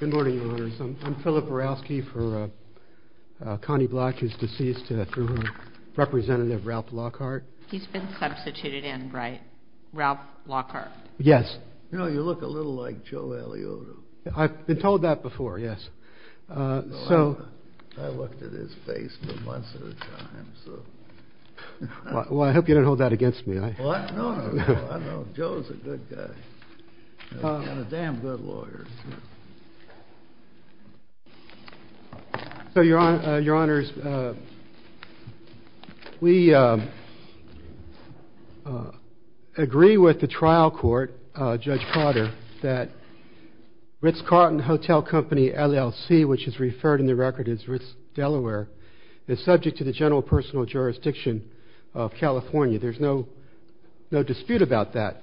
Good morning, Your Honors. I'm Philip Orowski for Connie Bloch, who's deceased, through Representative Ralph Lockhart. He's been substituted in, right? Ralph Lockhart. Yes. You know, you look a little like Joe Aliotta. I've been told that before, yes. I looked at his face once at a time, so... Well, I hope you don't hold that against me. Well, no, no, no. I know Joe's a good guy. He's got a damn good lawyer. So, Your Honors, we agree with the trial court, Judge Potter, that Ritz-Carlton Hotel Company, LLC, which is referred in the record as Ritz-Delaware, is subject to the general personal jurisdiction of California. There's no dispute about that.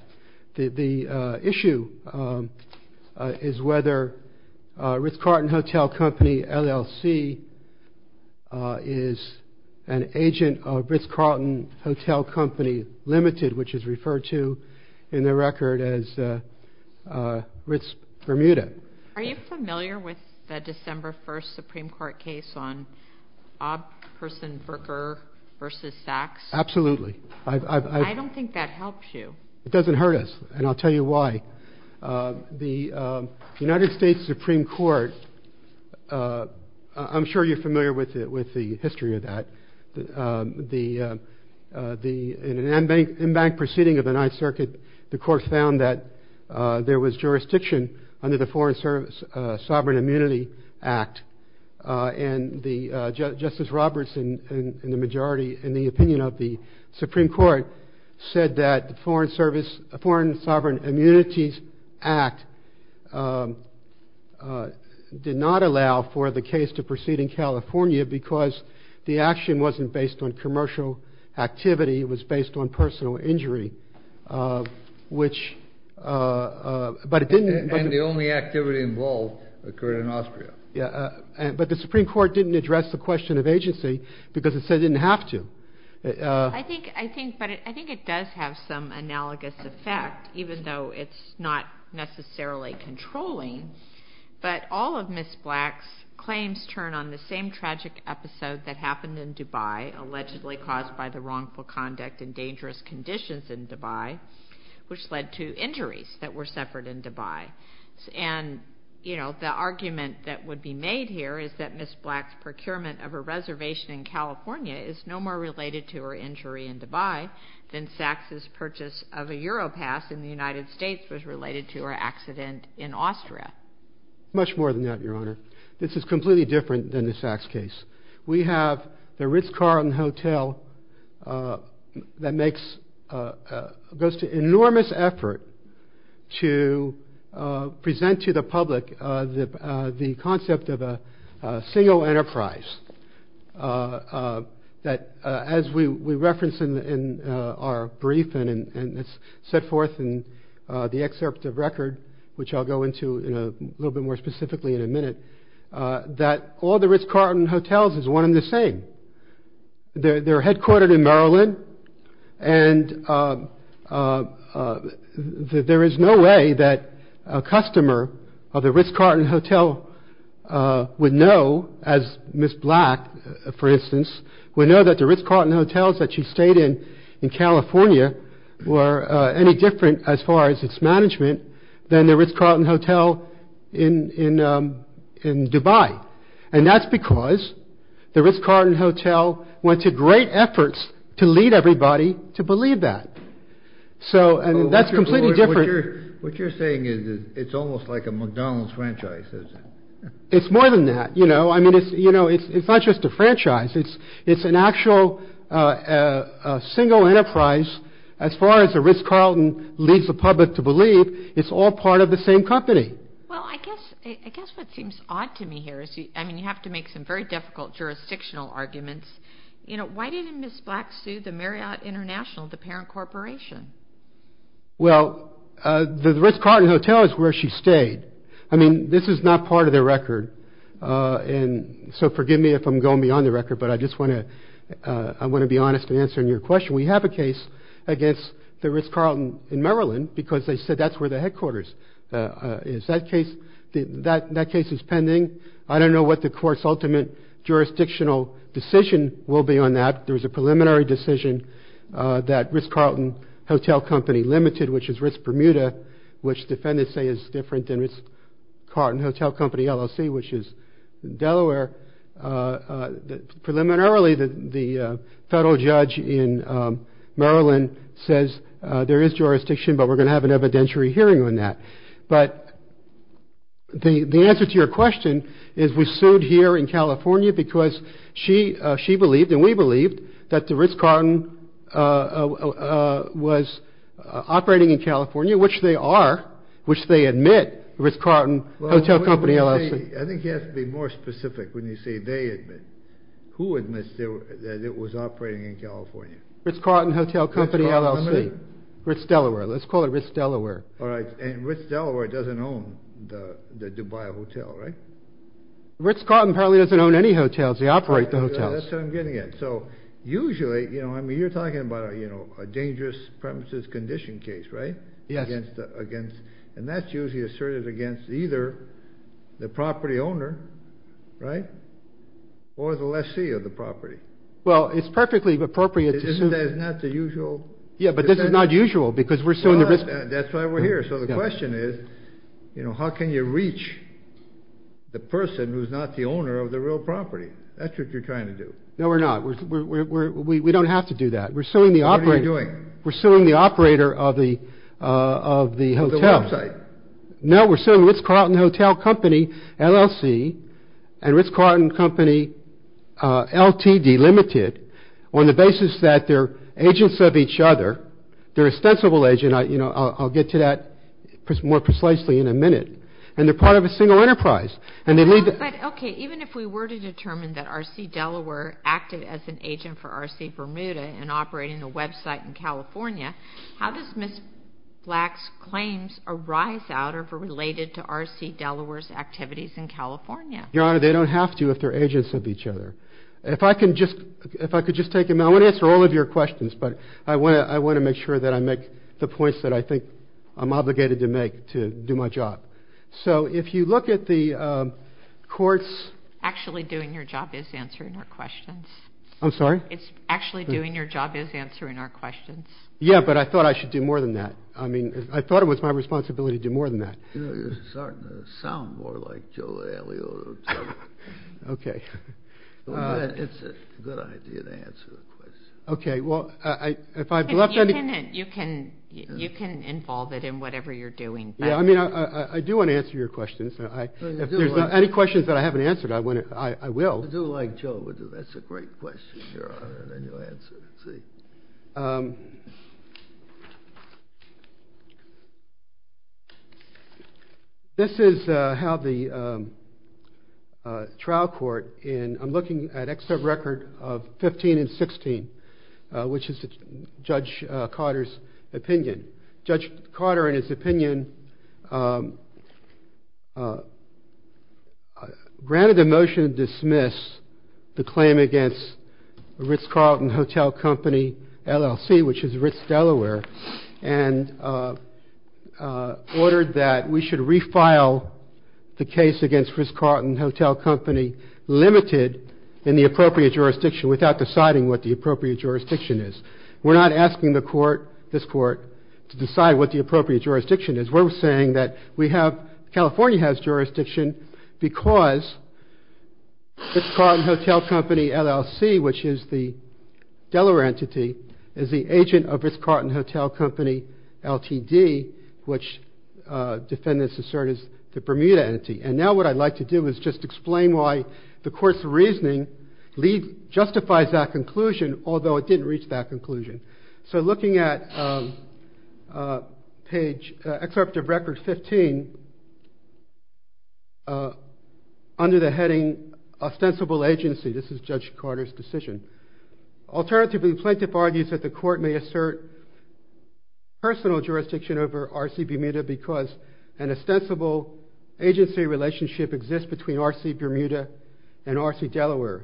The issue is whether Ritz-Carlton Hotel Company, LLC, is an agent of Ritz-Carlton Hotel Company, Limited, which is referred to in the record as Ritz-Bermuda. Are you familiar with the December 1st Supreme Court case on Obsterson-Burker v. Sachs? Absolutely. I don't think that helps you. It doesn't hurt us, and I'll tell you why. The United States Supreme Court, I'm sure you're familiar with the history of that. In an embanked proceeding of the Ninth Circuit, the court found that there was jurisdiction under the Foreign Sovereign Immunity Act. And Justice Roberts, in the opinion of the Supreme Court, said that the Foreign Sovereign Immunities Act did not allow for the case to proceed in California because the action wasn't based on commercial activity. It was based on personal injury. And the only activity involved occurred in Austria. But the Supreme Court didn't address the question of agency because it said it didn't have to. I think it does have some analogous effect, even though it's not necessarily controlling. But all of Ms. Black's claims turn on the same tragic episode that happened in Dubai, allegedly caused by the wrongful conduct and dangerous conditions in Dubai, which led to injuries that were suffered in Dubai. And the argument that would be made here is that Ms. Black's procurement of a reservation in California is no more related to her injury in Dubai than Sachs' purchase of a Europass in the United States was related to her accident in Austria. Much more than that, Your Honor. This is completely different than the Sachs case. We have the Ritz-Carlton Hotel that goes to enormous effort to present to the public the concept of a single enterprise, that as we reference in our brief and it's set forth in the excerpt of record, which I'll go into a little bit more specifically in a minute, that all the Ritz-Carlton Hotels is one and the same. They're headquartered in Maryland. And there is no way that a customer of the Ritz-Carlton Hotel would know, as Ms. Black, for instance, would know that the Ritz-Carlton Hotels that she stayed in in California were any different as far as its management than the Ritz-Carlton Hotel in Dubai. And that's because the Ritz-Carlton Hotel went to great efforts to lead everybody to believe that. So that's completely different. What you're saying is it's almost like a McDonald's franchise, is it? It's more than that. You know, I mean, it's not just a franchise. It's an actual single enterprise. As far as the Ritz-Carlton leads the public to believe, it's all part of the same company. Well, I guess what seems odd to me here is, I mean, you have to make some very difficult jurisdictional arguments. You know, why didn't Ms. Black sue the Marriott International, the parent corporation? Well, the Ritz-Carlton Hotel is where she stayed. I mean, this is not part of their record. And so forgive me if I'm going beyond the record, but I just want to be honest in answering your question. We have a case against the Ritz-Carlton in Maryland because they said that's where the headquarters is. That case is pending. I don't know what the court's ultimate jurisdictional decision will be on that. There was a preliminary decision that Ritz-Carlton Hotel Company Limited, which is Ritz-Bermuda, which defendants say is different than Ritz-Carlton Hotel Company LLC, which is Delaware. Preliminarily, the federal judge in Maryland says there is jurisdiction, but we're going to have an evidentiary hearing on that. But the answer to your question is we sued here in California because she believed and we believed that the Ritz-Carlton was operating in California, which they are, which they admit, Ritz-Carlton Hotel Company LLC. I think you have to be more specific when you say they admit. Who admits that it was operating in California? Ritz-Carlton Hotel Company LLC, Ritz-Delaware. Let's call it Ritz-Delaware. All right. And Ritz-Delaware doesn't own the Dubai Hotel, right? Ritz-Carlton apparently doesn't own any hotels. They operate the hotels. That's what I'm getting at. So usually, I mean, you're talking about a dangerous premises condition case, right? Yes. And that's usually asserted against either the property owner, right, or the lessee of the property. Well, it's perfectly appropriate to sue. Isn't that the usual? Yeah, but this is not usual because we're suing the Ritz. That's why we're here. So the question is, you know, how can you reach the person who's not the owner of the real property? That's what you're trying to do. No, we're not. We don't have to do that. What are you doing? We're suing the operator of the hotel. Of the website. No, we're suing Ritz-Carlton Hotel Company, LLC, and Ritz-Carlton Company, LTD Limited, on the basis that they're agents of each other. They're ostensible agents. I'll get to that more precisely in a minute. And they're part of a single enterprise. Okay, even if we were to determine that R.C. Delaware acted as an agent for R.C. Bermuda and operating a website in California, how does Ms. Black's claims arise out of or related to R.C. Delaware's activities in California? Your Honor, they don't have to if they're agents of each other. If I could just take a moment. I want to answer all of your questions, but I want to make sure that I make the points that I think I'm obligated to make to do my job. So if you look at the courts. Actually doing your job is answering our questions. I'm sorry? Actually doing your job is answering our questions. Yeah, but I thought I should do more than that. I mean, I thought it was my responsibility to do more than that. You're starting to sound more like Joe Alioto. Okay. It's a good idea to answer the questions. Okay, well, if I've left any— You can involve it in whatever you're doing. Yeah, I mean, I do want to answer your questions. If there's any questions that I haven't answered, I will. I do like Joe. That's a great question, Your Honor, that you answered. Let's see. This is how the trial court in— I'm looking at ex sub record of 15 and 16, which is Judge Carter's opinion. Judge Carter, in his opinion, granted the motion to dismiss the claim against Ritz-Carlton Hotel Company, LLC, which is Ritz, Delaware, and ordered that we should refile the case against Ritz-Carlton Hotel Company, limited in the appropriate jurisdiction, without deciding what the appropriate jurisdiction is. We're not asking the court, this court, to decide what the appropriate jurisdiction is. We're saying that we have—California has jurisdiction because Ritz-Carlton Hotel Company, LLC, which is the Delaware entity, is the agent of Ritz-Carlton Hotel Company, LTD, which defendants assert is the Bermuda entity. And now what I'd like to do is just explain why the court's reasoning justifies that conclusion, although it didn't reach that conclusion. So looking at page—excerpt of record 15, under the heading ostensible agency. This is Judge Carter's decision. Alternatively, the plaintiff argues that the court may assert personal jurisdiction over RC Bermuda because an ostensible agency relationship exists between RC Bermuda and RC Delaware.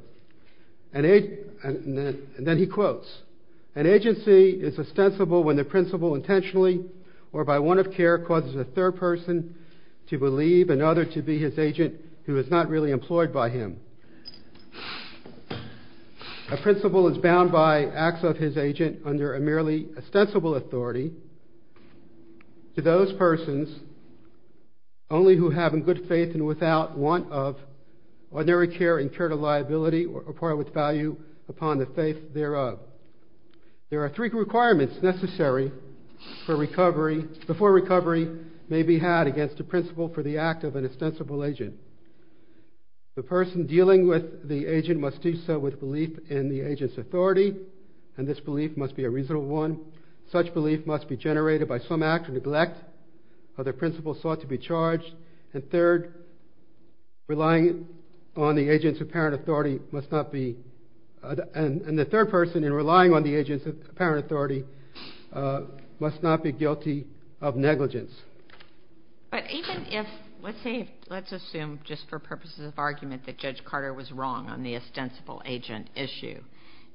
And then he quotes, an agency is ostensible when the principal intentionally or by warrant of care causes a third person to believe another to be his agent who is not really employed by him. A principal is bound by acts of his agent under a merely ostensible authority to those persons only who have in good faith and without want of ordinary care incurred a liability or part with value upon the faith thereof. There are three requirements necessary before recovery may be had against a principal for the act of an ostensible agent. The person dealing with the agent must do so with belief in the agent's authority, and this belief must be a reasonable one. Such belief must be generated by some act of neglect or the principal sought to be charged. And third, relying on the agent's apparent authority must not be— and the third person in relying on the agent's apparent authority must not be guilty of negligence. But even if—let's say—let's assume just for purposes of argument that Judge Carter was wrong on the ostensible agent issue.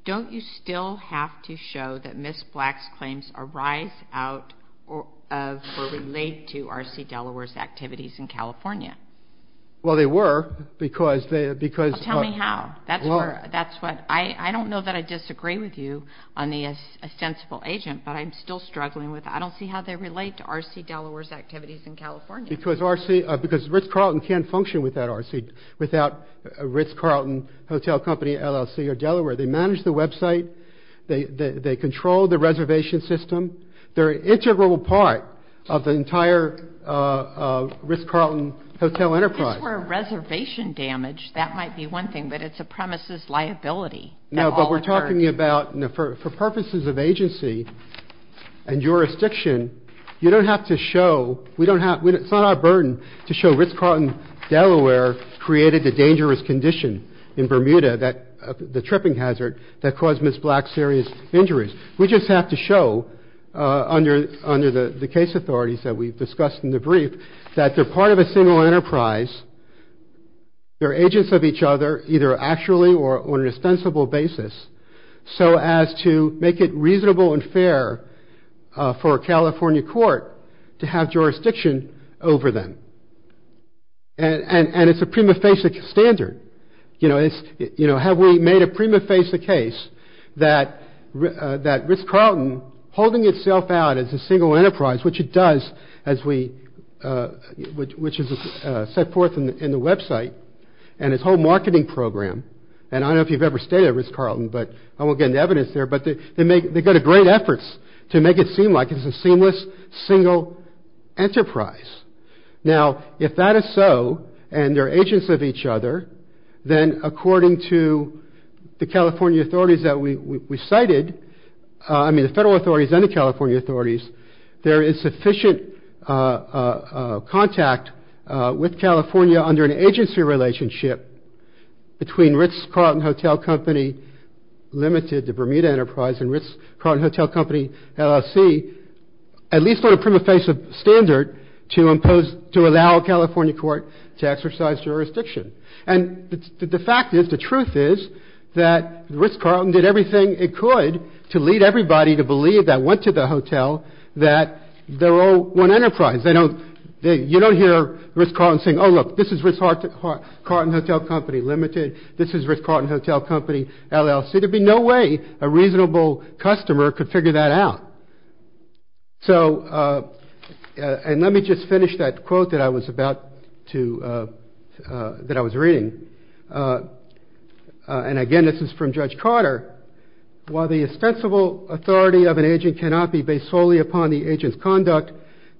Don't you still have to show that Ms. Black's claims arise out of or relate to R.C. Delaware's activities in California? Well, they were because they— Well, tell me how. That's what—I don't know that I disagree with you on the ostensible agent, but I'm still struggling with—I don't see how they relate to R.C. Delaware's activities in California. Because R.C.—because Ritz-Carlton can't function without R.C.— they manage the website, they control the reservation system. They're an integral part of the entire Ritz-Carlton hotel enterprise. If this were reservation damage, that might be one thing, but it's a premise's liability that all occurred. No, but we're talking about—for purposes of agency and jurisdiction, you don't have to show—we don't have—it's not our burden to show Ritz-Carlton, Delaware, created the dangerous condition in Bermuda, the tripping hazard, that caused Ms. Black serious injuries. We just have to show, under the case authorities that we've discussed in the brief, that they're part of a single enterprise. They're agents of each other, either actually or on an ostensible basis, so as to make it reasonable and fair for a California court to have jurisdiction over them. And it's a prima facie standard. You know, have we made a prima facie case that Ritz-Carlton, holding itself out as a single enterprise, which it does, as we—which is set forth in the website and its whole marketing program, and I don't know if you've ever stayed at Ritz-Carlton, but I won't get into evidence there, but they make—they go to great efforts to make it seem like it's a seamless, single enterprise. Now, if that is so, and they're agents of each other, then according to the California authorities that we cited, I mean the federal authorities and the California authorities, there is sufficient contact with California under an agency relationship between Ritz-Carlton Hotel Company Limited, the Bermuda enterprise, and Ritz-Carlton Hotel Company, LLC, at least on a prima facie standard, to impose—to allow a California court to exercise jurisdiction. And the fact is, the truth is, that Ritz-Carlton did everything it could to lead everybody to believe that went to the hotel that they're all one enterprise. They don't—you don't hear Ritz-Carlton saying, oh, look, this is Ritz-Carlton Hotel Company Limited, this is Ritz-Carlton Hotel Company, LLC. There'd be no way a reasonable customer could figure that out. So—and let me just finish that quote that I was about to—that I was reading. And again, this is from Judge Carter. While the ostensible authority of an agent cannot be based solely upon the agent's conduct,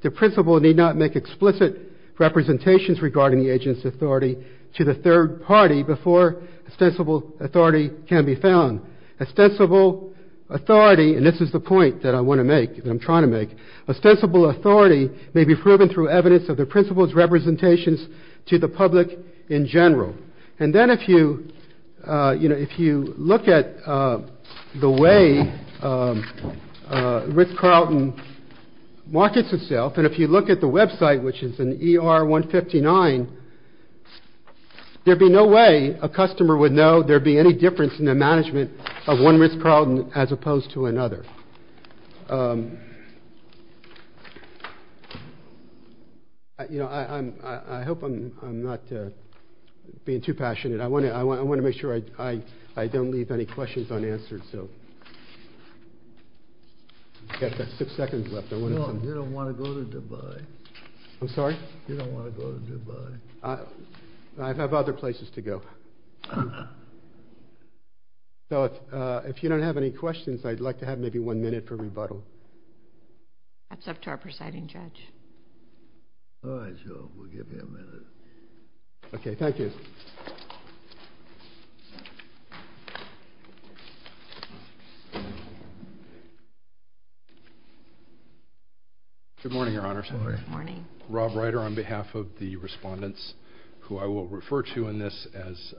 the principal need not make explicit representations regarding the agent's authority to the third party before ostensible authority can be found. Ostensible authority—and this is the point that I want to make, that I'm trying to make. Ostensible authority may be proven through evidence of the principal's representations to the public in general. And then if you—you know, if you look at the way Ritz-Carlton markets itself, and if you look at the website, which is in ER 159, there'd be no way a customer would know there'd be any difference in the management of one Ritz-Carlton as opposed to another. You know, I'm—I hope I'm not being too passionate. I want to make sure I don't leave any questions unanswered, so. I've got six seconds left. I want to— No, you don't want to go to Dubai. I'm sorry? You don't want to go to Dubai. I have other places to go. So if you don't have any questions, I'd like to have maybe one minute for rebuttal. That's up to our presiding judge. All right, so we'll give you a minute. Okay, thank you. Good morning, Your Honor. Good morning. Rob Ryder on behalf of the respondents, who I will refer to in this as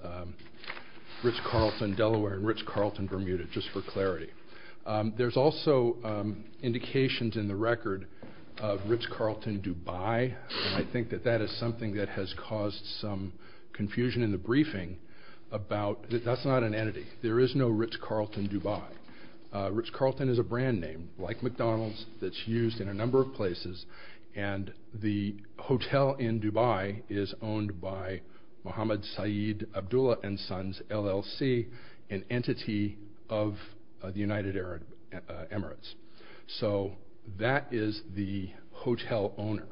Ritz-Carlton Delaware and Ritz-Carlton Bermuda, just for clarity. There's also indications in the record of Ritz-Carlton Dubai, and I think that that is something that has caused some confusion in the briefing about—that that's not an entity. There is no Ritz-Carlton Dubai. Ritz-Carlton is a brand name, like McDonald's, that's used in a number of places, and the hotel in Dubai is owned by Mohammed Saeed Abdullah and Sons, LLC, an entity of the United Arab Emirates. So that is the hotel owner.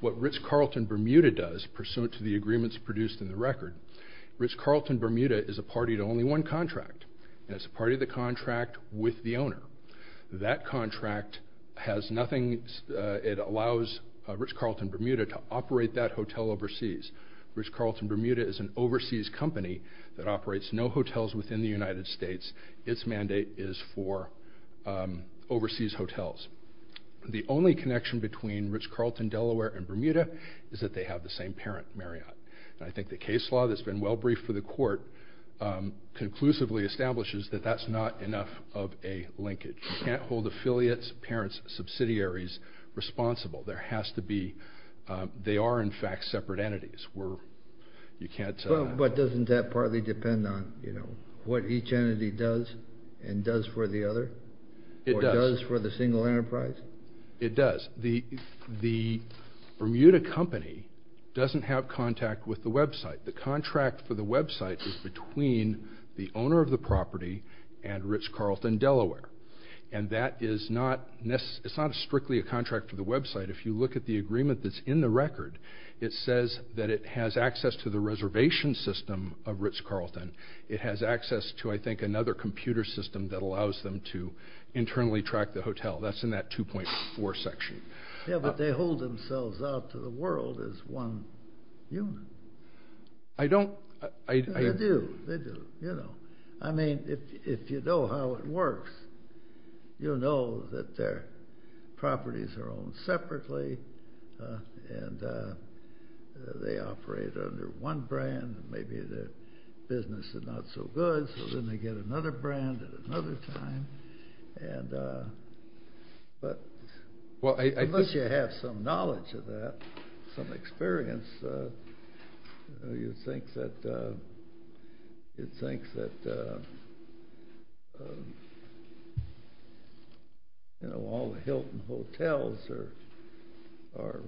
What Ritz-Carlton Bermuda does, pursuant to the agreements produced in the record, Ritz-Carlton Bermuda is a party to only one contract, and it's a party to the contract with the owner. That contract has nothing—it allows Ritz-Carlton Bermuda to operate that hotel overseas. Ritz-Carlton Bermuda is an overseas company that operates no hotels within the United States. Its mandate is for overseas hotels. The only connection between Ritz-Carlton Delaware and Bermuda is that they have the same parent, Marriott. I think the case law that's been well briefed for the court conclusively establishes that that's not enough of a linkage. You can't hold affiliates, parents, subsidiaries responsible. There has to be—they are, in fact, separate entities. You can't— But doesn't that partly depend on what each entity does and does for the other? It does. Or does for the single enterprise? It does. The Bermuda company doesn't have contact with the website. The contract for the website is between the owner of the property and Ritz-Carlton Delaware, and that is not—it's not strictly a contract for the website. If you look at the agreement that's in the record, it says that it has access to the reservation system of Ritz-Carlton. It has access to, I think, another computer system that allows them to internally track the hotel. That's in that 2.4 section. Yeah, but they hold themselves out to the world as one unit. I don't— They do. They do. You know. I mean, if you know how it works, you'll know that their properties are owned separately, and they operate under one brand, and maybe their business is not so good, so then they get another brand at another time. But unless you have some knowledge of that, some experience, you'd think that— you'd think that, you know, all the Hilton hotels are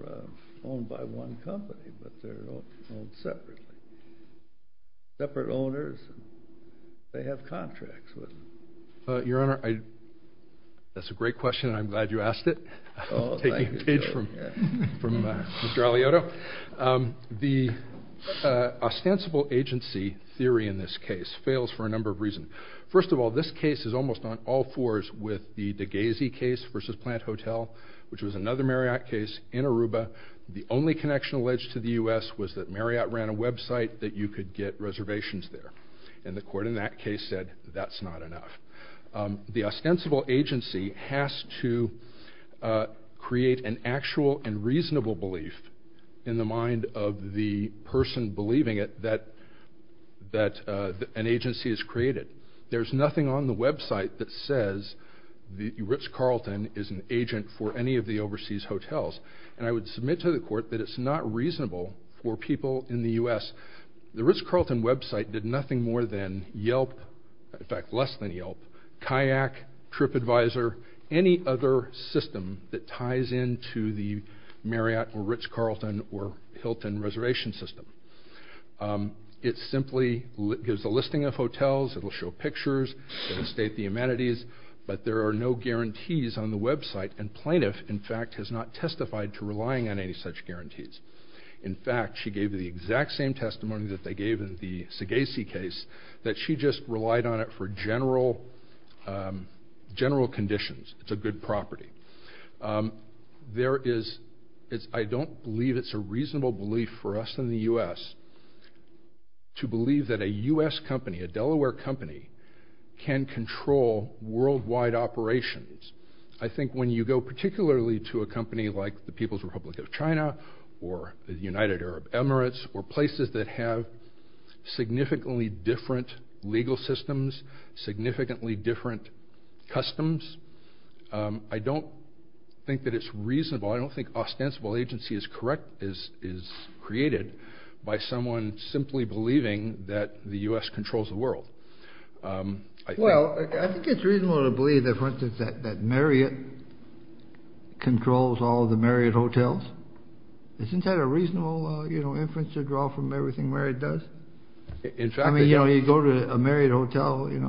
owned by one company, but they're owned separately. Separate owners, and they have contracts with them. Your Honor, that's a great question, and I'm glad you asked it. Oh, thank you. Taking a page from Mr. Aliotto. The ostensible agency theory in this case fails for a number of reasons. First of all, this case is almost on all fours with the DeGhese case versus Plant Hotel, which was another Marriott case in Aruba. The only connection alleged to the U.S. was that Marriott ran a website that you could get reservations there, and the court in that case said that's not enough. The ostensible agency has to create an actual and reasonable belief in the mind of the person believing it that an agency is created. There's nothing on the website that says Rich Carlton is an agent for any of the overseas hotels, and I would submit to the court that it's not reasonable for people in the U.S. The Rich Carlton website did nothing more than Yelp, in fact, less than Yelp, Kayak, TripAdvisor, any other system that ties into the Marriott or Rich Carlton or Hilton reservation system. It simply gives a listing of hotels. It'll show pictures. It'll state the amenities, but there are no guarantees on the website, and Plaintiff, in fact, has not testified to relying on any such guarantees. In fact, she gave the exact same testimony that they gave in the Seghese case, that she just relied on it for general conditions. It's a good property. I don't believe it's a reasonable belief for us in the U.S. to believe that a U.S. company, a Delaware company, can control worldwide operations. I think when you go particularly to a company like the People's Republic of China or the United Arab Emirates or places that have significantly different legal systems, significantly different customs, I don't think that it's reasonable. I don't think ostensible agency is created by someone simply believing that the U.S. controls the world. Well, I think it's reasonable to believe, for instance, that Marriott controls all the Marriott hotels. Isn't that a reasonable inference to draw from everything Marriott does? I mean, you go to a Marriott hotel in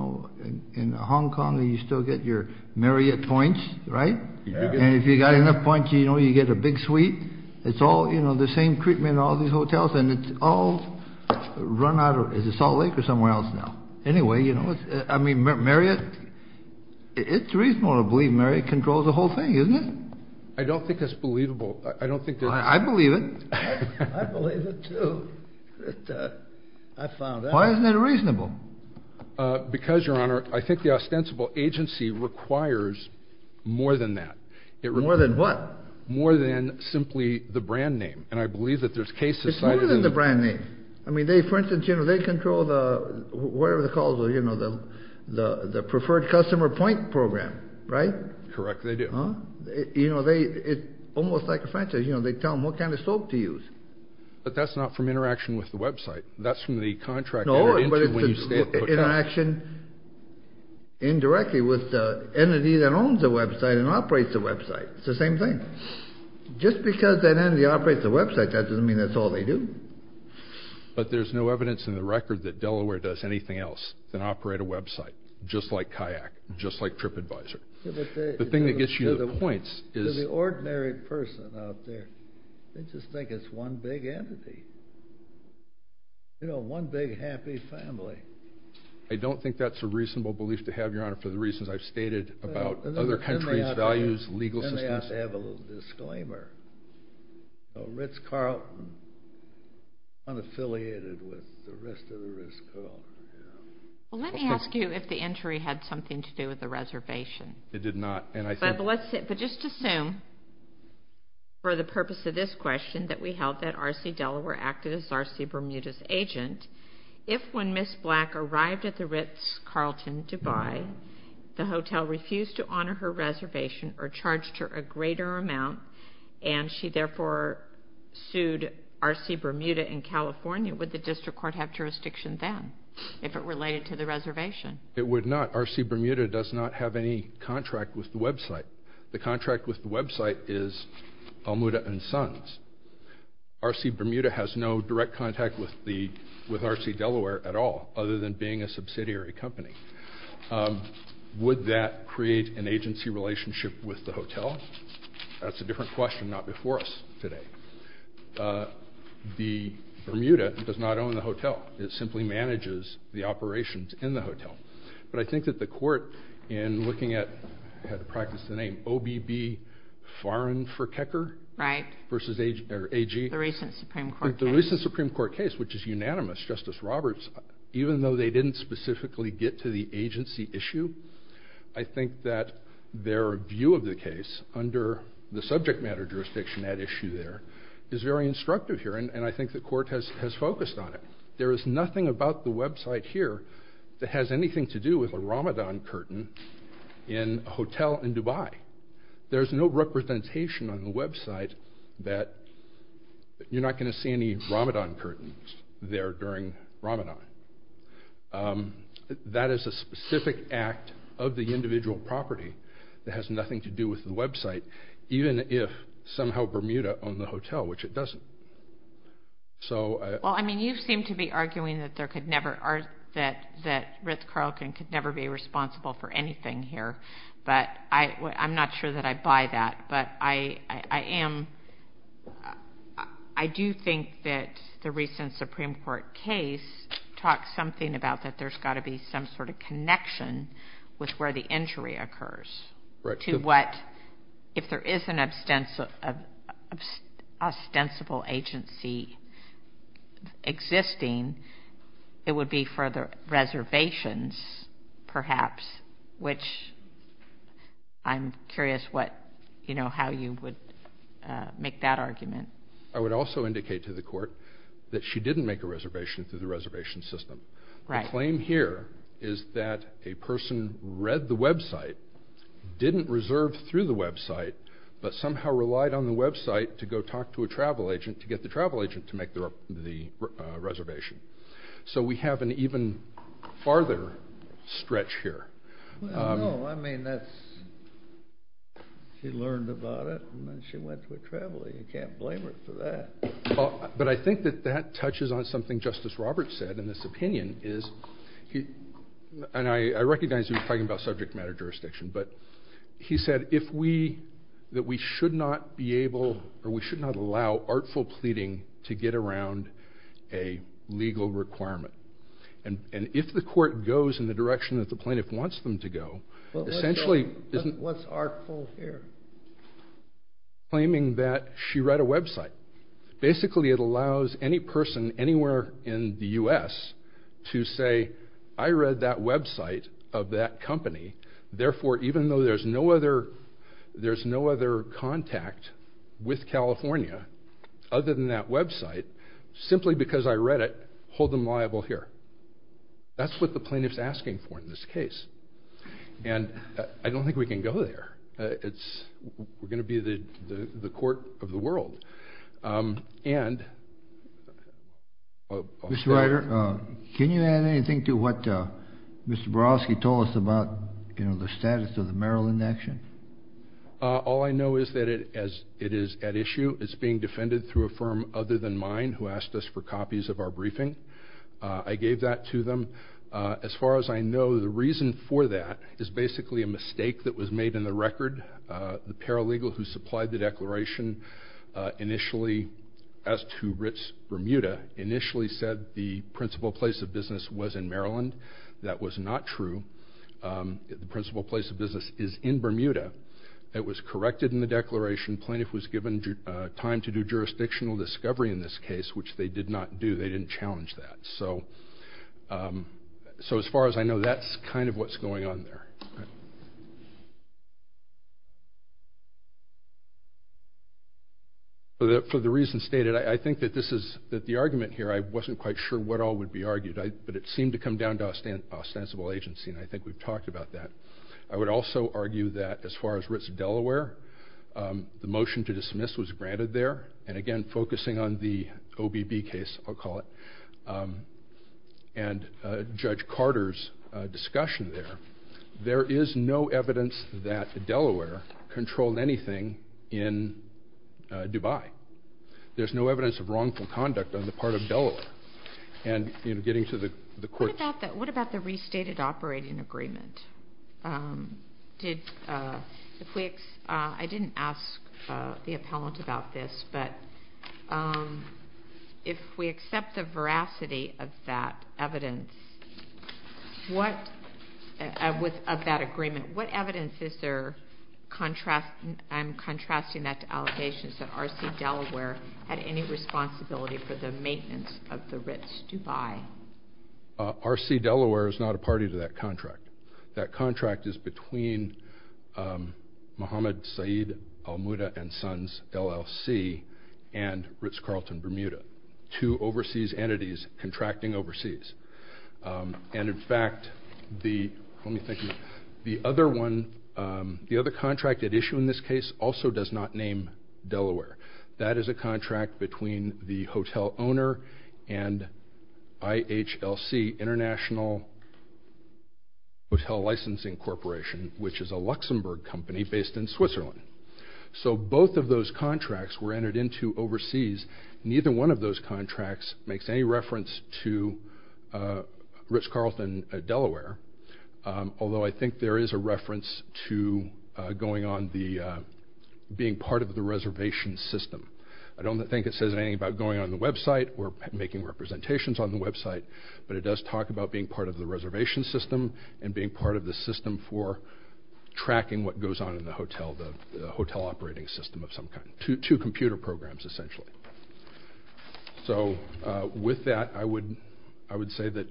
Hong Kong and you still get your Marriott points, right? And if you've got enough points, you get a big suite. It's all, you know, the same treatment in all these hotels, and it's all run out of, is it Salt Lake or somewhere else now? Anyway, you know, I mean, Marriott, it's reasonable to believe Marriott controls the whole thing, isn't it? I don't think that's believable. I believe it. I believe it, too. I found out. Why isn't that reasonable? Because, Your Honor, I think the ostensible agency requires more than that. More than what? More than simply the brand name. And I believe that there's cases— It's more than the brand name. I mean, they, for instance, you know, they control the, whatever the call is, you know, the preferred customer point program, right? Correct, they do. Huh? You know, they, it's almost like a franchise. You know, they tell them what kind of soap to use. But that's not from interaction with the website. That's from the contract— No, but it's interaction indirectly with the entity that owns the website and operates the website. It's the same thing. Just because that entity operates the website, that doesn't mean that's all they do. But there's no evidence in the record that Delaware does anything else than operate a website, just like Kayak, just like TripAdvisor. The thing that gets you to the point is— To the ordinary person out there, they just think it's one big entity. You know, one big happy family. I don't think that's a reasonable belief to have, Your Honor, for the reasons I've stated about other countries' values, legal systems. Then they have to have a little disclaimer. So Ritz-Carlton, unaffiliated with the rest of the Ritz-Carlton, yeah. Well, let me ask you if the entry had something to do with the reservation. It did not, and I think— But just assume, for the purpose of this question, that we held that R.C. Delaware acted as R.C. Bermuda's agent. If, when Ms. Black arrived at the Ritz-Carlton Dubai, the hotel refused to honor her reservation or charged her a greater amount, and she therefore sued R.C. Bermuda in California, would the district court have jurisdiction then if it related to the reservation? It would not. R.C. Bermuda does not have any contract with the website. The contract with the website is Almuda & Sons. R.C. Bermuda has no direct contact with R.C. Delaware at all, other than being a subsidiary company. Would that create an agency relationship with the hotel? That's a different question, not before us today. The Bermuda does not own the hotel. It simply manages the operations in the hotel. But I think that the court, in looking at—I had to practice the name—OBB Foreign for Kecker— Right. —versus AG— The recent Supreme Court case. The recent Supreme Court case, which is unanimous, Justice Roberts, even though they didn't specifically get to the agency issue, I think that their view of the case under the subject matter jurisdiction at issue there is very instructive here, and I think the court has focused on it. There is nothing about the website here that has anything to do with a Ramadan curtain in a hotel in Dubai. There's no representation on the website that you're not going to see any Ramadan curtains there during Ramadan. That is a specific act of the individual property that has nothing to do with the website, even if somehow Bermuda owned the hotel, which it doesn't. Well, I mean, you seem to be arguing that Ritz-Carlton could never be responsible for anything here, but I'm not sure that I buy that. But I do think that the recent Supreme Court case talks something about that there's got to be some sort of connection with where the injury occurs to what, if there is an ostensible agency existing, it would be for the reservations, perhaps, which I'm curious how you would make that argument. I would also indicate to the court that she didn't make a reservation through the reservation system. Right. The claim here is that a person read the website, didn't reserve through the website, but somehow relied on the website to go talk to a travel agent to get the travel agent to make the reservation. So we have an even farther stretch here. Well, no. I mean, she learned about it, and then she went to a traveler. You can't blame her for that. But I think that that touches on something Justice Roberts said in this opinion is, and I recognize he was talking about subject matter jurisdiction, but he said that we should not be able or we should not allow artful pleading to get around a legal requirement. And if the court goes in the direction that the plaintiff wants them to go, essentially isn't... What's artful here? Claiming that she read a website. Basically, it allows any person anywhere in the U.S. to say, I read that website of that company, therefore, even though there's no other contact with California other than that website, simply because I read it, hold them liable here. That's what the plaintiff's asking for in this case. And I don't think we can go there. We're going to be the court of the world. And... Mr. Ryder, can you add anything to what Mr. Borowski told us about the status of the Maryland action? All I know is that it is at issue. It's being defended through a firm other than mine who asked us for copies of our briefing. I gave that to them. As far as I know, the reason for that is basically a mistake that was made in the record. The paralegal who supplied the declaration initially, as to Bermuda, initially said the principal place of business was in Maryland. That was not true. The principal place of business is in Bermuda. It was corrected in the declaration. Plaintiff was given time to do jurisdictional discovery in this case, which they did not do. They didn't challenge that. So as far as I know, that's kind of what's going on there. For the reasons stated, I think that the argument here, I wasn't quite sure what all would be argued. But it seemed to come down to ostensible agency, and I think we've talked about that. I would also argue that as far as Ritz-Delaware, the motion to dismiss was granted there. And again, focusing on the OBB case, I'll call it, and Judge Carter's discussion there, there is no evidence that Delaware controlled anything in Dubai. There's no evidence of wrongful conduct on the part of Delaware. And getting to the court. What about the restated operating agreement? I didn't ask the appellant about this, but if we accept the veracity of that agreement, what evidence is there contrasting that to allegations that R.C. Delaware had any responsibility for the maintenance of the Ritz-Dubai? R.C. Delaware is not a party to that contract. That contract is between Mohammed Saeed Al Muda and Sons, LLC, and Ritz-Carlton Bermuda, two overseas entities contracting overseas. And in fact, the other contract at issue in this case also does not name Delaware. That is a contract between the hotel owner and IHLC, International Hotel Licensing Corporation, which is a Luxembourg company based in Switzerland. So both of those contracts were entered into overseas. Neither one of those contracts makes any reference to Ritz-Carlton Delaware, although I think there is a reference to being part of the reservation system. I don't think it says anything about going on the website or making representations on the website, but it does talk about being part of the reservation system and being part of the system for tracking what goes on in the hotel, the hotel operating system of some kind, two computer programs essentially. So with that, I would say that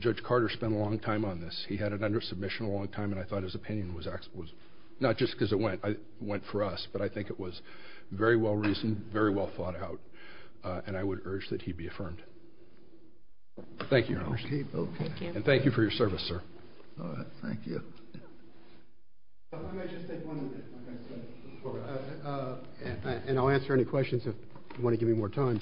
Judge Carter spent a long time on this. He had it under submission a long time, and I thought his opinion was excellent. Not just because it went for us, but I think it was very well reasoned, very well thought out, and I would urge that he be affirmed. Thank you, Your Honor. And thank you for your service, sir. Thank you. If I may just take one minute, like I said before, and I'll answer any questions if you want to give me more time.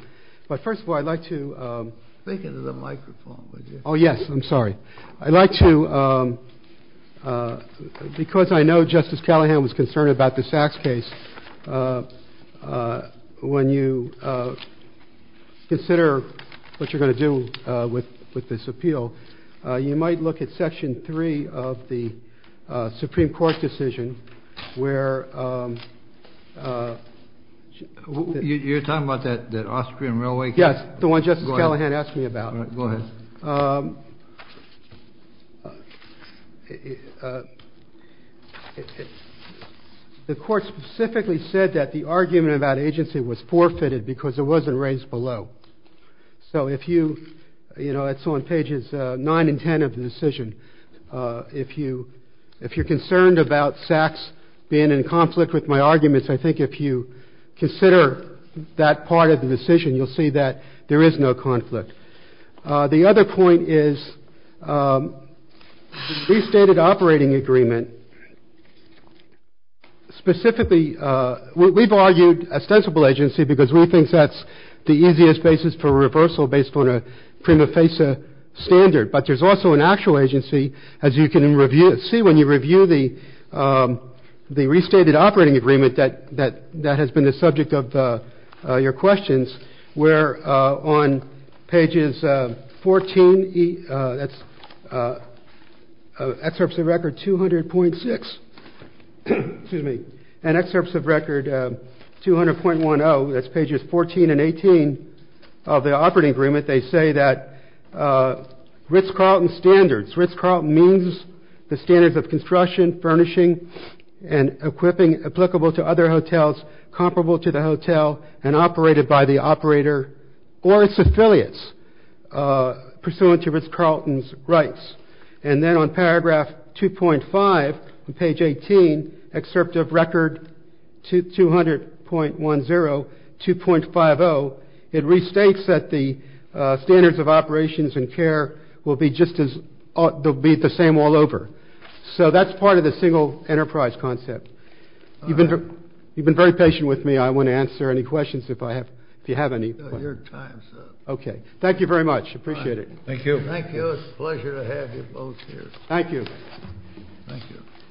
But first of all, I'd like to... Think into the microphone, would you? Oh, yes. I'm sorry. I'd like to... Because I know Justice Callahan was concerned about the Sachs case, when you consider what you're going to do with this appeal, you might look at Section 3 of the Supreme Court decision where... You're talking about that Austrian railway case? Yes, the one Justice Callahan asked me about. All right. Go ahead. The court specifically said that the argument about agency was forfeited because it wasn't raised below. So if you... You know, it's on pages 9 and 10 of the decision. If you're concerned about Sachs being in conflict with my arguments, I think if you consider that part of the decision, you'll see that there is no conflict. The other point is the restated operating agreement specifically... We've argued ostensible agency because we think that's the easiest basis for reversal based on a prima facie standard. But there's also an actual agency, as you can see, when you review the restated operating agreement that has been the subject of your questions, where on pages 14... That's excerpts of record 200.6. Excuse me. And excerpts of record 200.10. That's pages 14 and 18 of the operating agreement. They say that Ritz-Carlton standards... Ritz-Carlton means the standards of construction, furnishing, and equipping applicable to other hotels comparable to the hotel and operated by the operator or its affiliates pursuant to Ritz-Carlton's rights. And then on paragraph 2.5 on page 18, excerpt of record 200.10, 2.50, it restates that the standards of operations and care will be just as... They'll be the same all over. So that's part of the single enterprise concept. You've been very patient with me. I want to answer any questions if you have any. Your time's up. Okay. Thank you very much. I appreciate it. Thank you. Thank you. It's a pleasure to have you both here. Thank you. Thank you.